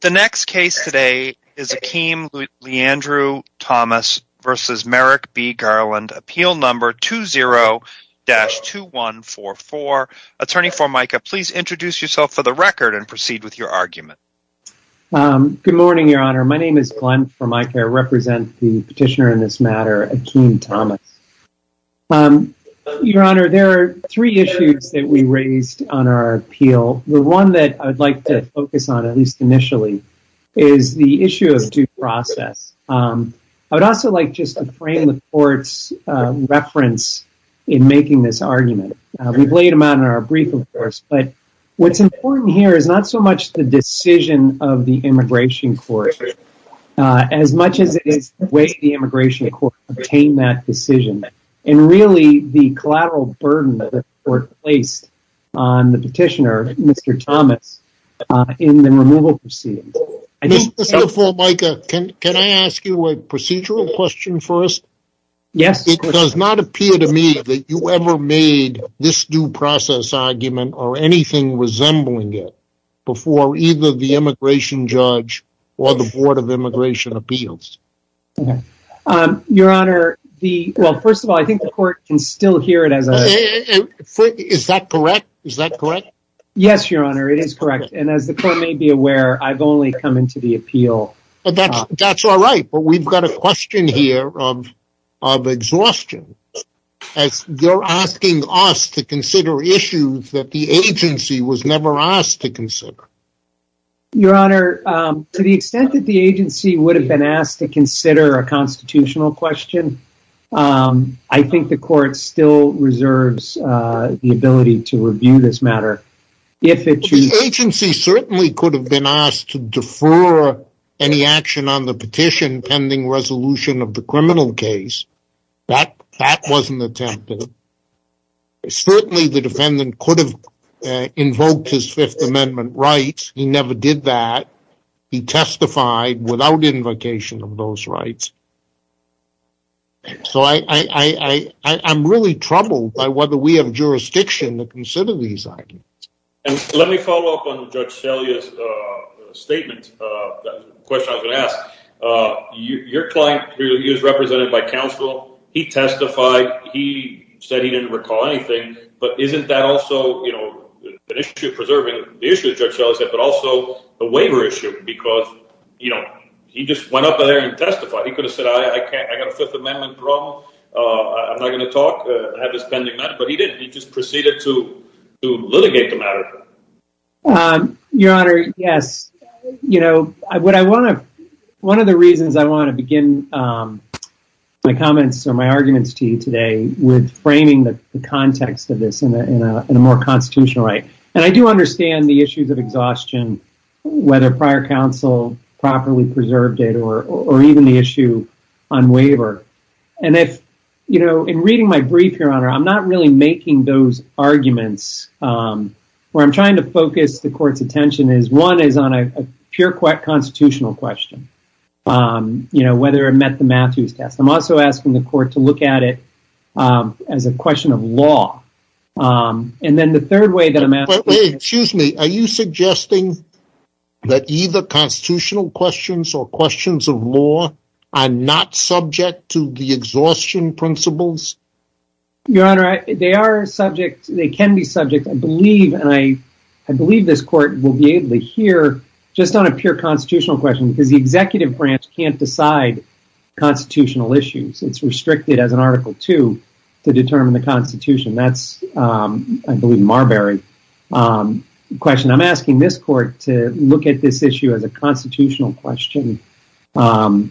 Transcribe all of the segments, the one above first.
The next case today is Akeem Leandru-Thomas v. Merrick B. Garland, Appeal No. 20-2144. Attorney Formica, please introduce yourself for the record and proceed with your argument. Good morning, Your Honor. My name is Glenn Formica. I represent the petitioner in this matter, Akeem Thomas. Your Honor, there are three issues that we raised on our appeal. The one that I'd like to focus on, at least initially, is the issue of due process. I would also like just to frame the Court's reference in making this argument. We've laid them out in our brief, of course, but what's important here is not so much the decision of the Immigration Court, as much as it is the way the Immigration Court obtained that decision. And really, the collateral burden that the Court placed on the petitioner, Mr. Thomas, in the removal proceedings. Mr. Formica, can I ask you a procedural question first? Yes, of course. It does not appear to me that you ever made this due process argument or anything resembling it before either the Immigration Judge or the Board of Immigration Appeals. Okay. Your Honor, well, first of all, I think the Court can still hear it as a... Is that correct? Is that correct? Yes, Your Honor, it is correct. And as the Court may be aware, I've only come into the appeal... That's all right, but we've got a question here of exhaustion, as you're asking us to consider issues that the agency was never asked to consider. Your Honor, to the extent that the agency would have been asked to consider a constitutional question, I think the Court still reserves the ability to review this matter. If it should... The agency certainly could have been asked to defer any action on the petition pending resolution of the criminal case. That wasn't attempted. Certainly, the defendant could have amended his Fifth Amendment rights. He never did that. He testified without invocation of those rights. So, I'm really troubled by whether we have jurisdiction to consider these items. Let me follow up on Judge Salia's statement, the question I was going to ask. Your client, he was represented by counsel. He testified. He said he didn't recall anything. But isn't that an issue of preserving the issue that Judge Salia said, but also a waiver issue? Because he just went up there and testified. He could have said, I got a Fifth Amendment problem. I'm not going to talk. I have this pending matter. But he didn't. He just proceeded to litigate the matter. Your Honor, yes. One of the reasons I want to begin my comments or my arguments to you today with framing the context of this in a more constitutional way. I do understand the issues of exhaustion, whether prior counsel properly preserved it or even the issue on waiver. In reading my brief, Your Honor, I'm not really making those arguments. Where I'm trying to focus the court's attention is one is on a constitutional question, whether it met the Matthews test. I'm also asking the court to look at it as a question of law. Are you suggesting that either constitutional questions or questions of law are not subject to the exhaustion principles? Your Honor, they are subject. And I believe this court will be able to hear just on a pure constitutional question, because the executive branch can't decide constitutional issues. It's restricted as an Article II to determine the constitution. That's, I believe, Marbury's question. I'm asking this court to look at this issue as a constitutional question. So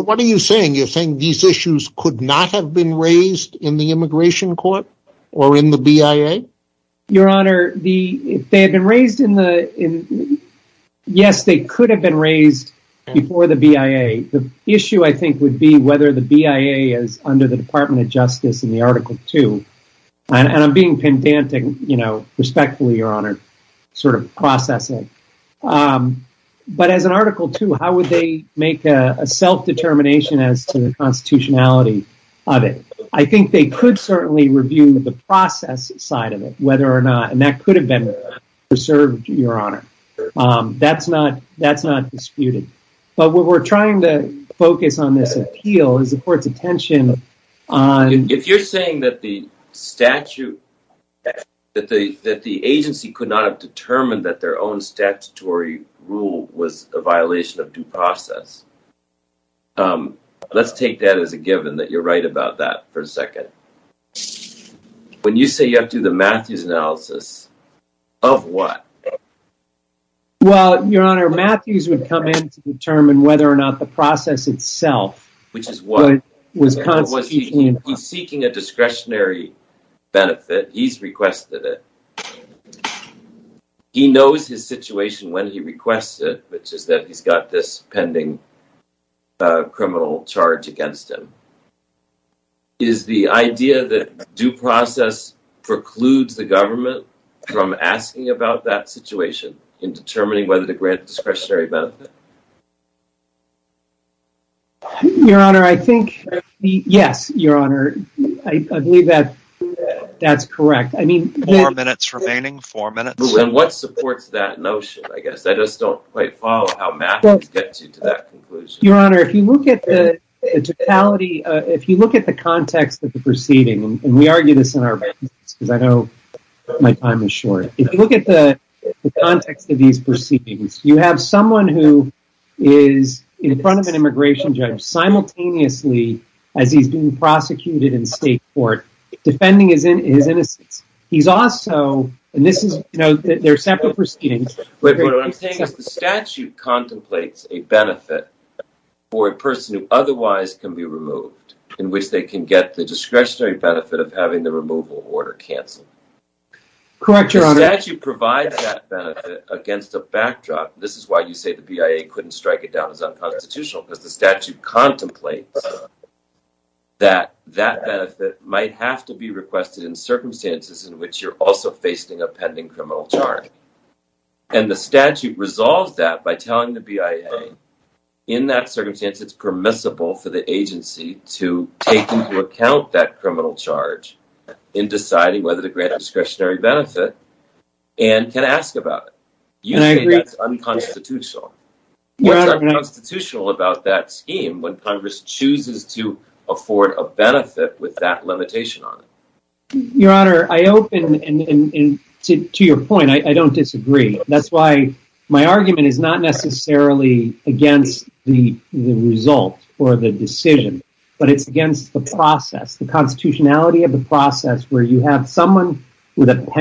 what are you saying? You're saying these issues could not have been raised in the immigration court or in the BIA? Your Honor, yes, they could have been raised before the BIA. The issue, I think, would be whether the BIA is under the Department of Justice in the Article II. And I'm being pedantic, respectfully, Your Honor, sort of processing. But as an Article II, how would they make a self-determination as to the constitutionality of it? I think they could certainly review the process side of it, whether or not. And that could have been preserved, Your Honor. That's not disputed. But what we're trying to focus on this appeal is the court's attention on... If you're saying that the agency could not have determined that their own statutory rule was a violation of due process, let's take that as a given that you're right about that for a second. When you say you have to do the Matthews analysis, of what? Well, Your Honor, Matthews would come in to determine whether or not the process itself... Which is what? ...was constituting... He's seeking a discretionary benefit. He's requested it. He knows his situation when he requests it, which is that he's got this pending criminal charge against him. Is the idea that due process precludes the government from asking about that situation in determining whether to grant discretionary benefit? Your Honor, I think... Yes, Your Honor. I believe that that's correct. I mean... And what supports that notion, I guess? I just don't quite follow how Matthews gets you to that conclusion. Your Honor, if you look at the totality... If you look at the context of the proceeding, and we argue this in our... Because I know my time is short. If you look at the context of these proceedings, you have someone who is in front of an immigration judge simultaneously as he's being prosecuted in state court, defending his innocence. He's also... And this is... They're separate proceedings. Wait, but what I'm saying is the statute contemplates a benefit for a person who otherwise can be removed, in which they can get the discretionary benefit of having the removal order canceled. Correct, Your Honor. The statute provides that benefit against a backdrop. This is why you say the BIA couldn't strike it down as unconstitutional, because the statute contemplates that that benefit might have to be requested in circumstances in which you're also facing a pending criminal charge. And the statute resolves that by telling the BIA, in that circumstance, it's permissible for the agency to take into account that criminal charge in deciding whether to grant discretionary benefit and can ask about it. You say that's unconstitutional. What's unconstitutional about that scheme when Congress chooses to afford a benefit with that limitation on it? Your Honor, I open... And to your point, I don't disagree. That's why my argument is not necessarily against the result or the decision, but it's against the process, the constitutionality of the process, where you have someone with a But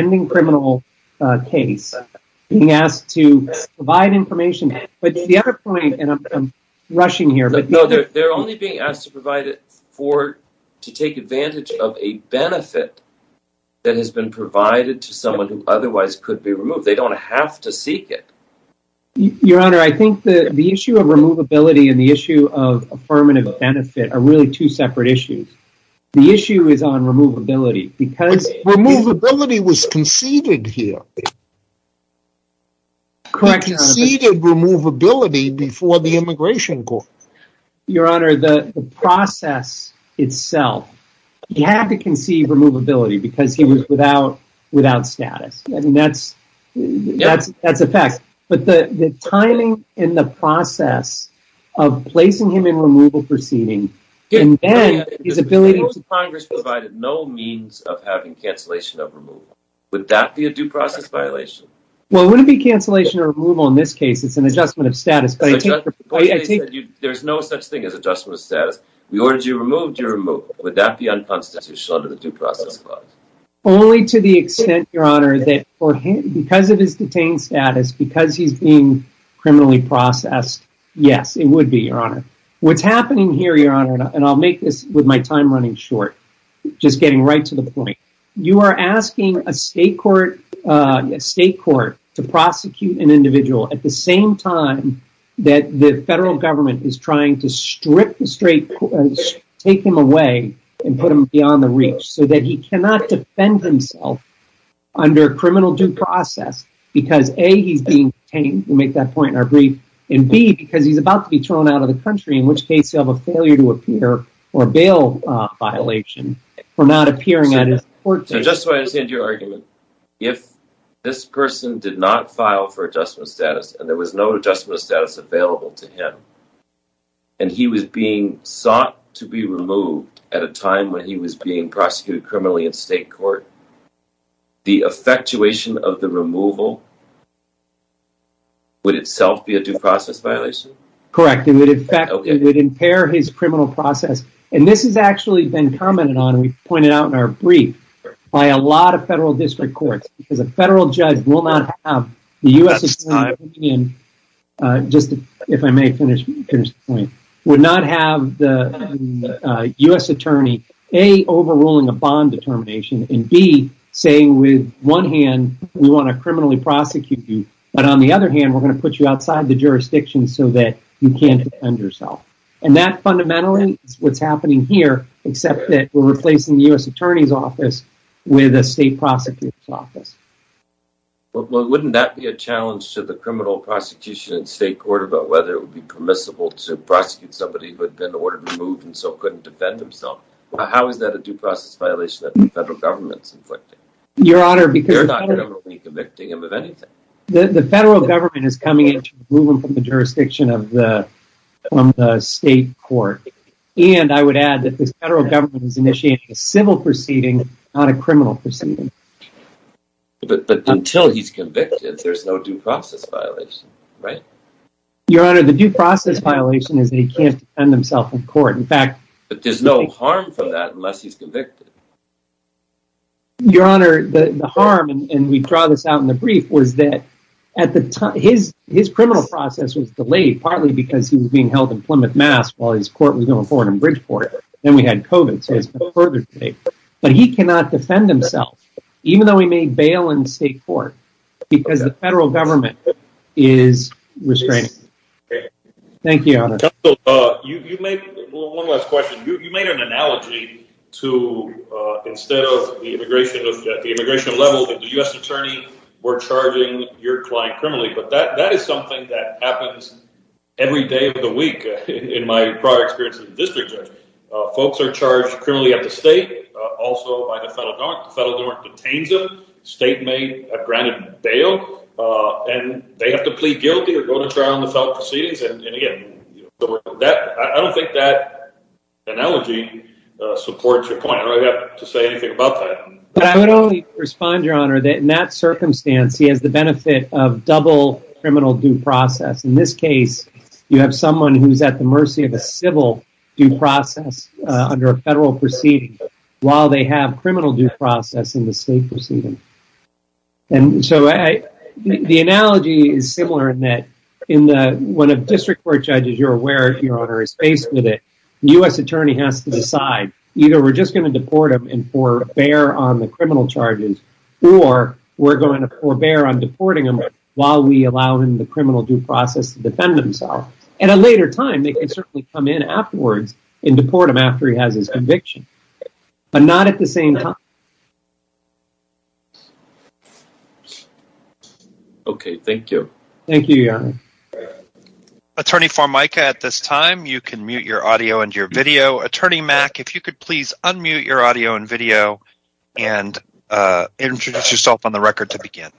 the other point, and I'm rushing here, but... No, they're only being asked to provide it for, to take advantage of a benefit that has been provided to someone who otherwise could be removed. They don't have to seek it. Your Honor, I think that the issue of removability and the issue of affirmative benefit are really two separate issues. The issue is on removability, because... Removability was conceded here. He conceded removability before the immigration court. Your Honor, the process itself, you have to concede removability because he was without status. I mean, that's a fact. But the timing in the process of placing him in removal proceeding and then his ability to... If Congress provided no means of having violation... Well, it wouldn't be cancellation or removal in this case. It's an adjustment of status, but I think... There's no such thing as adjustment of status. We ordered you removed, you're removed. Would that be unconstitutional under the due process clause? Only to the extent, Your Honor, that because of his detained status, because he's being criminally processed, yes, it would be, Your Honor. What's happening here, Your Honor, and I'll make this with my time running short, just getting right to the point. You are asking a state court to prosecute an individual at the same time that the federal government is trying to strip the straight... Take him away and put him beyond the reach, so that he cannot defend himself under a criminal due process, because A, he's being detained. We make that point in our brief. And B, because he's about to be thrown out of the country, in which case he'll have a failure to appear or bail violation for not appearing at his court date. Just so I understand your argument, if this person did not file for adjustment of status, and there was no adjustment of status available to him, and he was being sought to be removed at a time when he was being prosecuted criminally in state court, the effectuation of the removal would itself be a due process violation? Correct. It would impair his criminal process. And this has actually been commented on, we pointed out in our brief, by a lot of federal district courts, because a federal judge will not have the U.S. attorney, just if I may finish, would not have the U.S. attorney, A, overruling a bond determination, and B, saying with one hand, we want to criminally prosecute you, but on the other hand, we're going to put you outside the jurisdiction so that you can't defend yourself. And that fundamentally is what's happening here, except that we're replacing the U.S. attorney's office with a state prosecutor's office. Wouldn't that be a challenge to the criminal prosecution in state court about whether it would be permissible to prosecute somebody who had been ordered removed and so couldn't defend himself? How is that a due process violation that the federal government's inflicting? Your Honor, the federal government is coming in to remove him from the jurisdiction of the state court. And I would add that the federal government is initiating a civil proceeding, not a criminal proceeding. But until he's convicted, there's no due process violation, right? Your Honor, the due process violation is that he can't defend himself in court. In fact, there's no harm from that unless he's convicted. Your Honor, the harm, and we draw this out in the brief, was that at the time, his criminal process was delayed, partly because he was being held in Plymouth, Mass., while his court was going forward in Bridgeport. Then we had COVID, so it's been further delayed. But he cannot defend himself, even though he may bail in state court, because the federal government is restraining him. Thank you, Your Honor. You made one last question. You made an analogy to, instead of the immigration level, that the U.S. attorney were charging your client criminally. But that is something that happens every day of the week, in my prior experience as a district judge. Folks are charged criminally at the state, also by the federal government. The federal government detains them, state may have granted bail, and they have to plead guilty or go to trial in the federal proceedings. And again, I don't think that analogy supports your point. I don't have to say anything about that. But I would only respond, Your Honor, that in that circumstance, he has the benefit of double criminal due process. In this case, you have someone who's at the mercy of a civil due process under a federal proceeding, while they have criminal due process in the state proceeding. And so I think the analogy is similar in that in the one of district court judges, you're aware if your owner is faced with it, the U.S. attorney has to decide, either we're just going to deport him and forbear on the criminal charges, or we're going to forbear on deporting him while we allow him the criminal due process to defend himself. At a later time, they can certainly come in afterwards and deport him after he has his conviction. But not at the same time. Okay, thank you. Thank you, Your Honor. Attorney Formica, at this time, you can mute your audio and your video. Attorney Mack, if you could please unmute your audio and video and introduce yourself on the record to begin.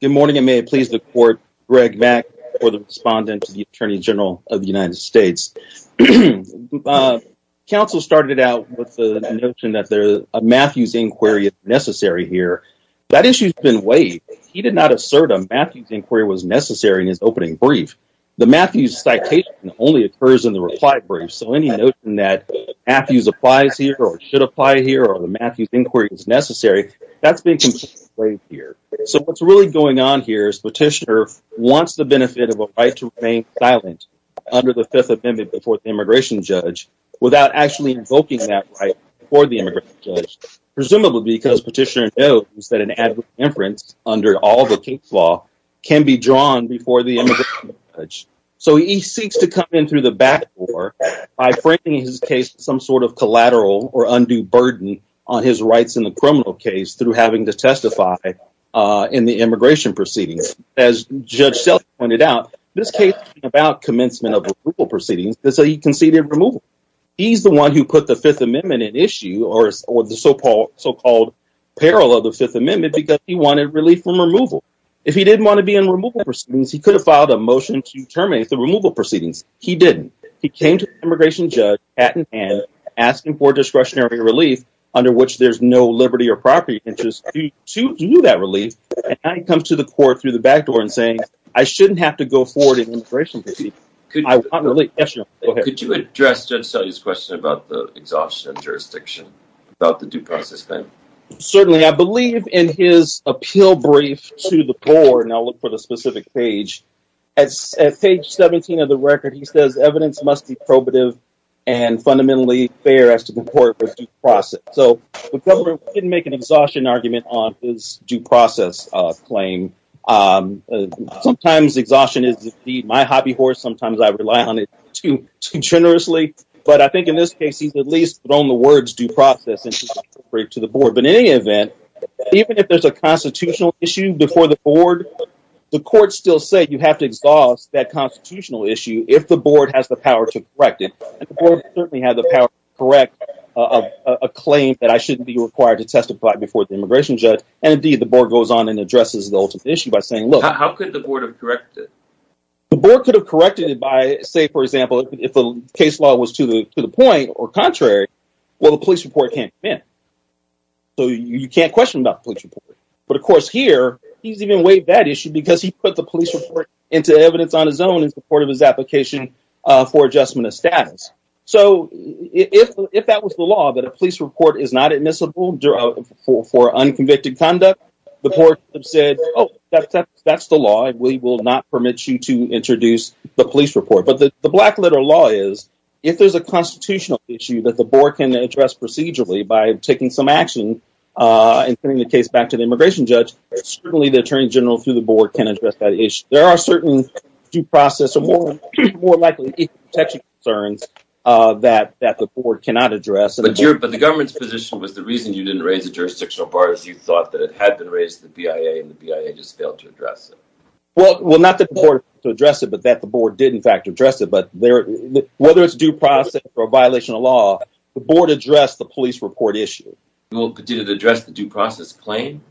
Good morning, and may it please the court, Greg Mack, for the respondent to the Attorney General of the United States. The counsel started out with the notion that a Matthews inquiry is necessary here. That issue's been waived. He did not assert a Matthews inquiry was necessary in his opening brief. The Matthews citation only occurs in the reply brief, so any notion that Matthews applies here or should apply here or the Matthews inquiry is necessary, that's been completely waived here. So what's really going on here is Petitioner wants the benefit of a right to remain silent under the Fifth Amendment before the immigration judge without actually invoking that right for the immigration judge, presumably because Petitioner knows that an adverse inference under all the case law can be drawn before the immigration judge. So he seeks to come in through the back door by framing his case as some sort of collateral or undue burden on his rights in the criminal case through having to testify in the immigration proceedings. As Judge Selleck pointed out, this case is about commencement of removal proceedings, so he conceded removal. He's the one who put the Fifth Amendment at issue or the so-called peril of the Fifth Amendment because he wanted relief from removal. If he didn't want to be in removal proceedings, he could have filed a motion to terminate the removal proceedings. He didn't. He came to the immigration judge, hat in hand, asking for discretionary relief under which there's no liberty or property interest to do that relief, and now he comes to the court through the back door and saying, I shouldn't have to go forward in immigration. Could you address Judge Selleck's question about the exhaustion of jurisdiction, about the due process claim? Certainly. I believe in his appeal brief to the court, and I'll look for the specific page, at page 17 of the record, he says evidence must be probative and fundamentally fair as to the process. The government didn't make an exhaustion argument on his due process claim. Sometimes exhaustion is my hobby horse. Sometimes I rely on it too generously, but I think in this case, he's at least thrown the words due process into the brief to the board, but in any event, even if there's a constitutional issue before the board, the court still said you have to exhaust that constitutional issue if the board has the power to correct it, and the board certainly has the power to correct a claim that I shouldn't be required to testify before the immigration judge, and indeed, the board goes on and addresses the issue by saying, look. How could the board have corrected it? The board could have corrected it by, say, for example, if the case law was to the point or contrary, well, the police report can't come in, so you can't question about the police report, but of course here, he's even weighed that issue because he put the police report into evidence on in support of his application for adjustment of status, so if that was the law, that a police report is not admissible for unconvicted conduct, the board said, oh, that's the law, and we will not permit you to introduce the police report, but the black letter law is if there's a constitutional issue that the board can address procedurally by taking some action and sending the case back to the immigration judge, certainly the attorney general through the board can address that issue. There are certain due process or more likely protection concerns that the board cannot address. But the government's position was the reason you didn't raise the jurisdictional bar is you thought that it had been raised to the BIA, and the BIA just failed to address it. Well, not that the board failed to address it, but that the board did, in fact, address it, but whether it's due process or a violation of law, the board addressed the police report issue. Did it address the due process claim?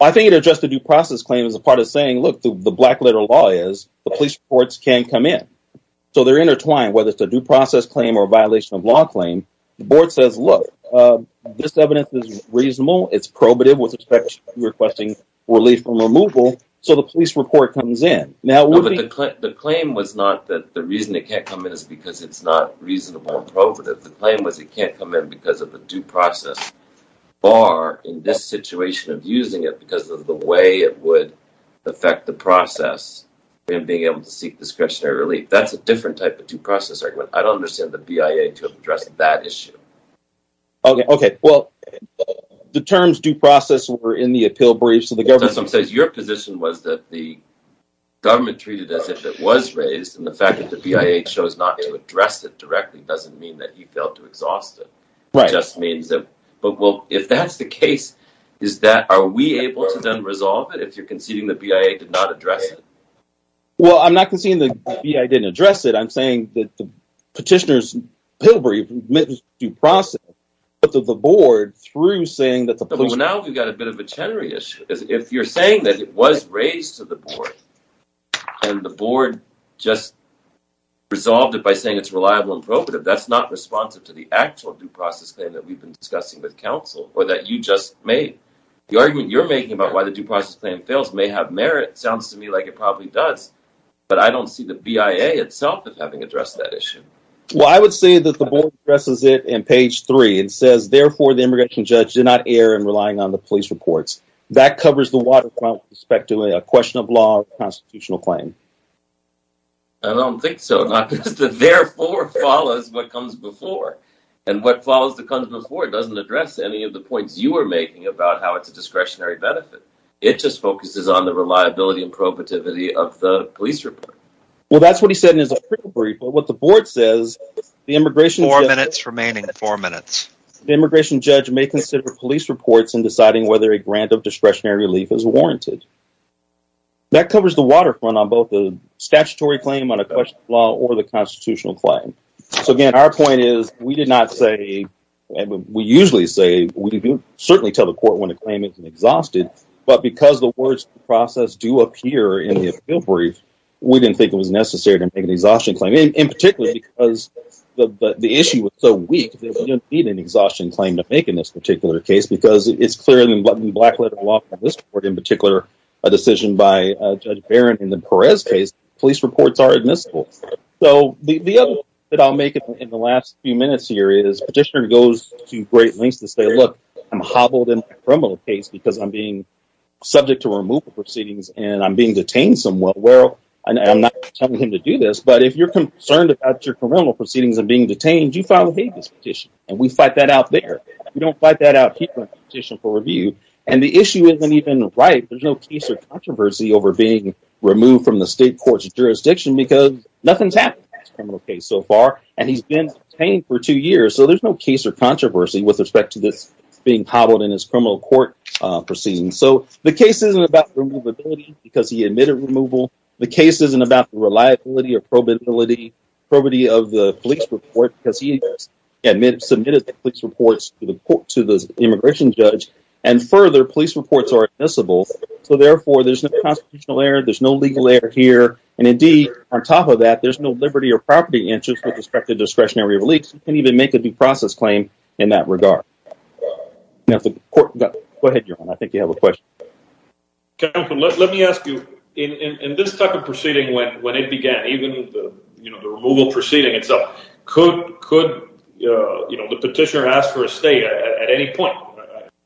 I think it addressed the due process claim as a part of saying, look, the black letter law is the police reports can come in, so they're intertwined, whether it's a due process claim or a violation of law claim. The board says, look, this evidence is reasonable, it's probative with respect to requesting relief from removal, so the police report comes in. No, but the claim was not that the reason it can't come in is because it's not reasonable and probative. The claim was it can't come in because of the due process bar in this situation of using it because of the way it would affect the process in being able to seek discretionary relief. That's a different type of due process argument. I don't understand the BIA to have addressed that issue. Okay, well, the terms due process were in the appeal brief, so the government... Your position was that the government treated as if it was raised, and the fact that the BIA chose not to address it directly doesn't mean that you failed to exhaust it. Right. It just means that... But, well, if that's the case, is that... Are we able to then resolve it if you're conceding the BIA did not address it? Well, I'm not conceding the BIA didn't address it. I'm saying that the petitioner's appeal brief met the due process of the board through saying that the police... Well, now we've got a bit of a Chenery issue. If you're saying that it was raised to the board and the board just resolved it by saying it's reliable and that we've been discussing with counsel or that you just made... The argument you're making about why the due process claim fails may have merit, sounds to me like it probably does, but I don't see the BIA itself as having addressed that issue. Well, I would say that the board addresses it in page three. It says, therefore, the immigration judge did not err in relying on the police reports. That covers the waterfront with respect to a question of law or constitutional claim. I don't think so. Not that the therefore follows what comes before and what follows the comes before doesn't address any of the points you were making about how it's a discretionary benefit. It just focuses on the reliability and probativity of the police report. Well, that's what he said in his appeal brief, but what the board says, the immigration... Four minutes remaining, four minutes. The immigration judge may consider police reports in deciding whether a grant of discretionary relief is warranted. That covers the waterfront on both the statutory claim on a question of law or the constitutional claim. So again, our point is we did not say, and we usually say, we do certainly tell the court when a claim isn't exhausted, but because the words process do appear in the appeal brief, we didn't think it was necessary to make an exhaustion claim in particular because the issue was so weak that we didn't need an black letter of law for this court. In particular, a decision by Judge Barron in the Perez case, police reports are admissible. So the other thing that I'll make in the last few minutes here is petitioner goes to great lengths to say, look, I'm hobbled in a criminal case because I'm being subject to removal proceedings and I'm being detained somewhere. Well, I'm not telling him to do this, but if you're concerned about your criminal proceedings and being detained, you file don't fight that out here in the petition for review. And the issue isn't even right. There's no case or controversy over being removed from the state court's jurisdiction because nothing's happened in this criminal case so far. And he's been detained for two years. So there's no case or controversy with respect to this being hobbled in his criminal court proceedings. So the case isn't about removability because he admitted removal. The case isn't about the reliability or probability of the police report because he submitted the police reports to the immigration judge. And further, police reports are admissible. So therefore, there's no constitutional error. There's no legal error here. And indeed, on top of that, there's no liberty or property interest with respect to discretionary release. You can't even make a due process claim in that regard. Go ahead, your honor. I think you have a question. Let me ask you in this type of even the removal proceeding itself. Could the petitioner ask for a stay at any point?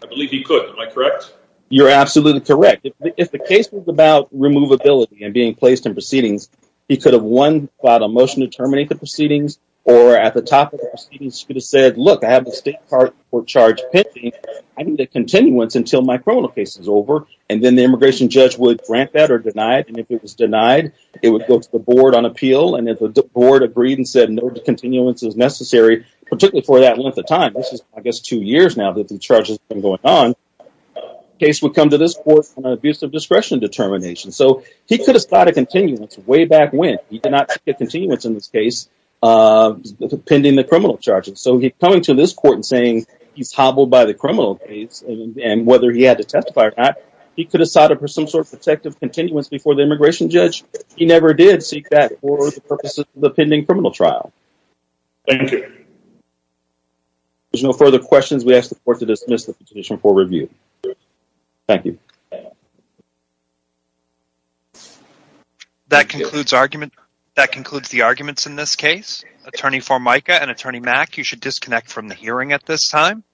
I believe he could. Am I correct? You're absolutely correct. If the case was about removability and being placed in proceedings, he could have won by the motion to terminate the proceedings or at the top of the proceedings could have said, look, I have the state court charge pending. I need a continuance until my criminal case is over. And then the immigration judge would grant that or deny it. And if it was denied, it would go to the board on appeal. And if the board agreed and said no continuance is necessary, particularly for that length of time, which is, I guess, two years now that the charges have been going on, the case would come to this court for an abuse of discretion determination. So he could have sought a continuance way back when. He did not get continuance in this case pending the criminal charges. So he's coming to this court and saying he's hobbled by the criminal case. And whether he had to testify or not, he could have sought some sort of protective continuance before the immigration judge. He never did seek that for the purposes of the pending criminal trial. Thank you. There's no further questions. We ask the court to dismiss the petition for review. Thank you. That concludes argument. That concludes the arguments in this case. Attorney Formica and Attorney Mack, you should disconnect from the hearing at this time.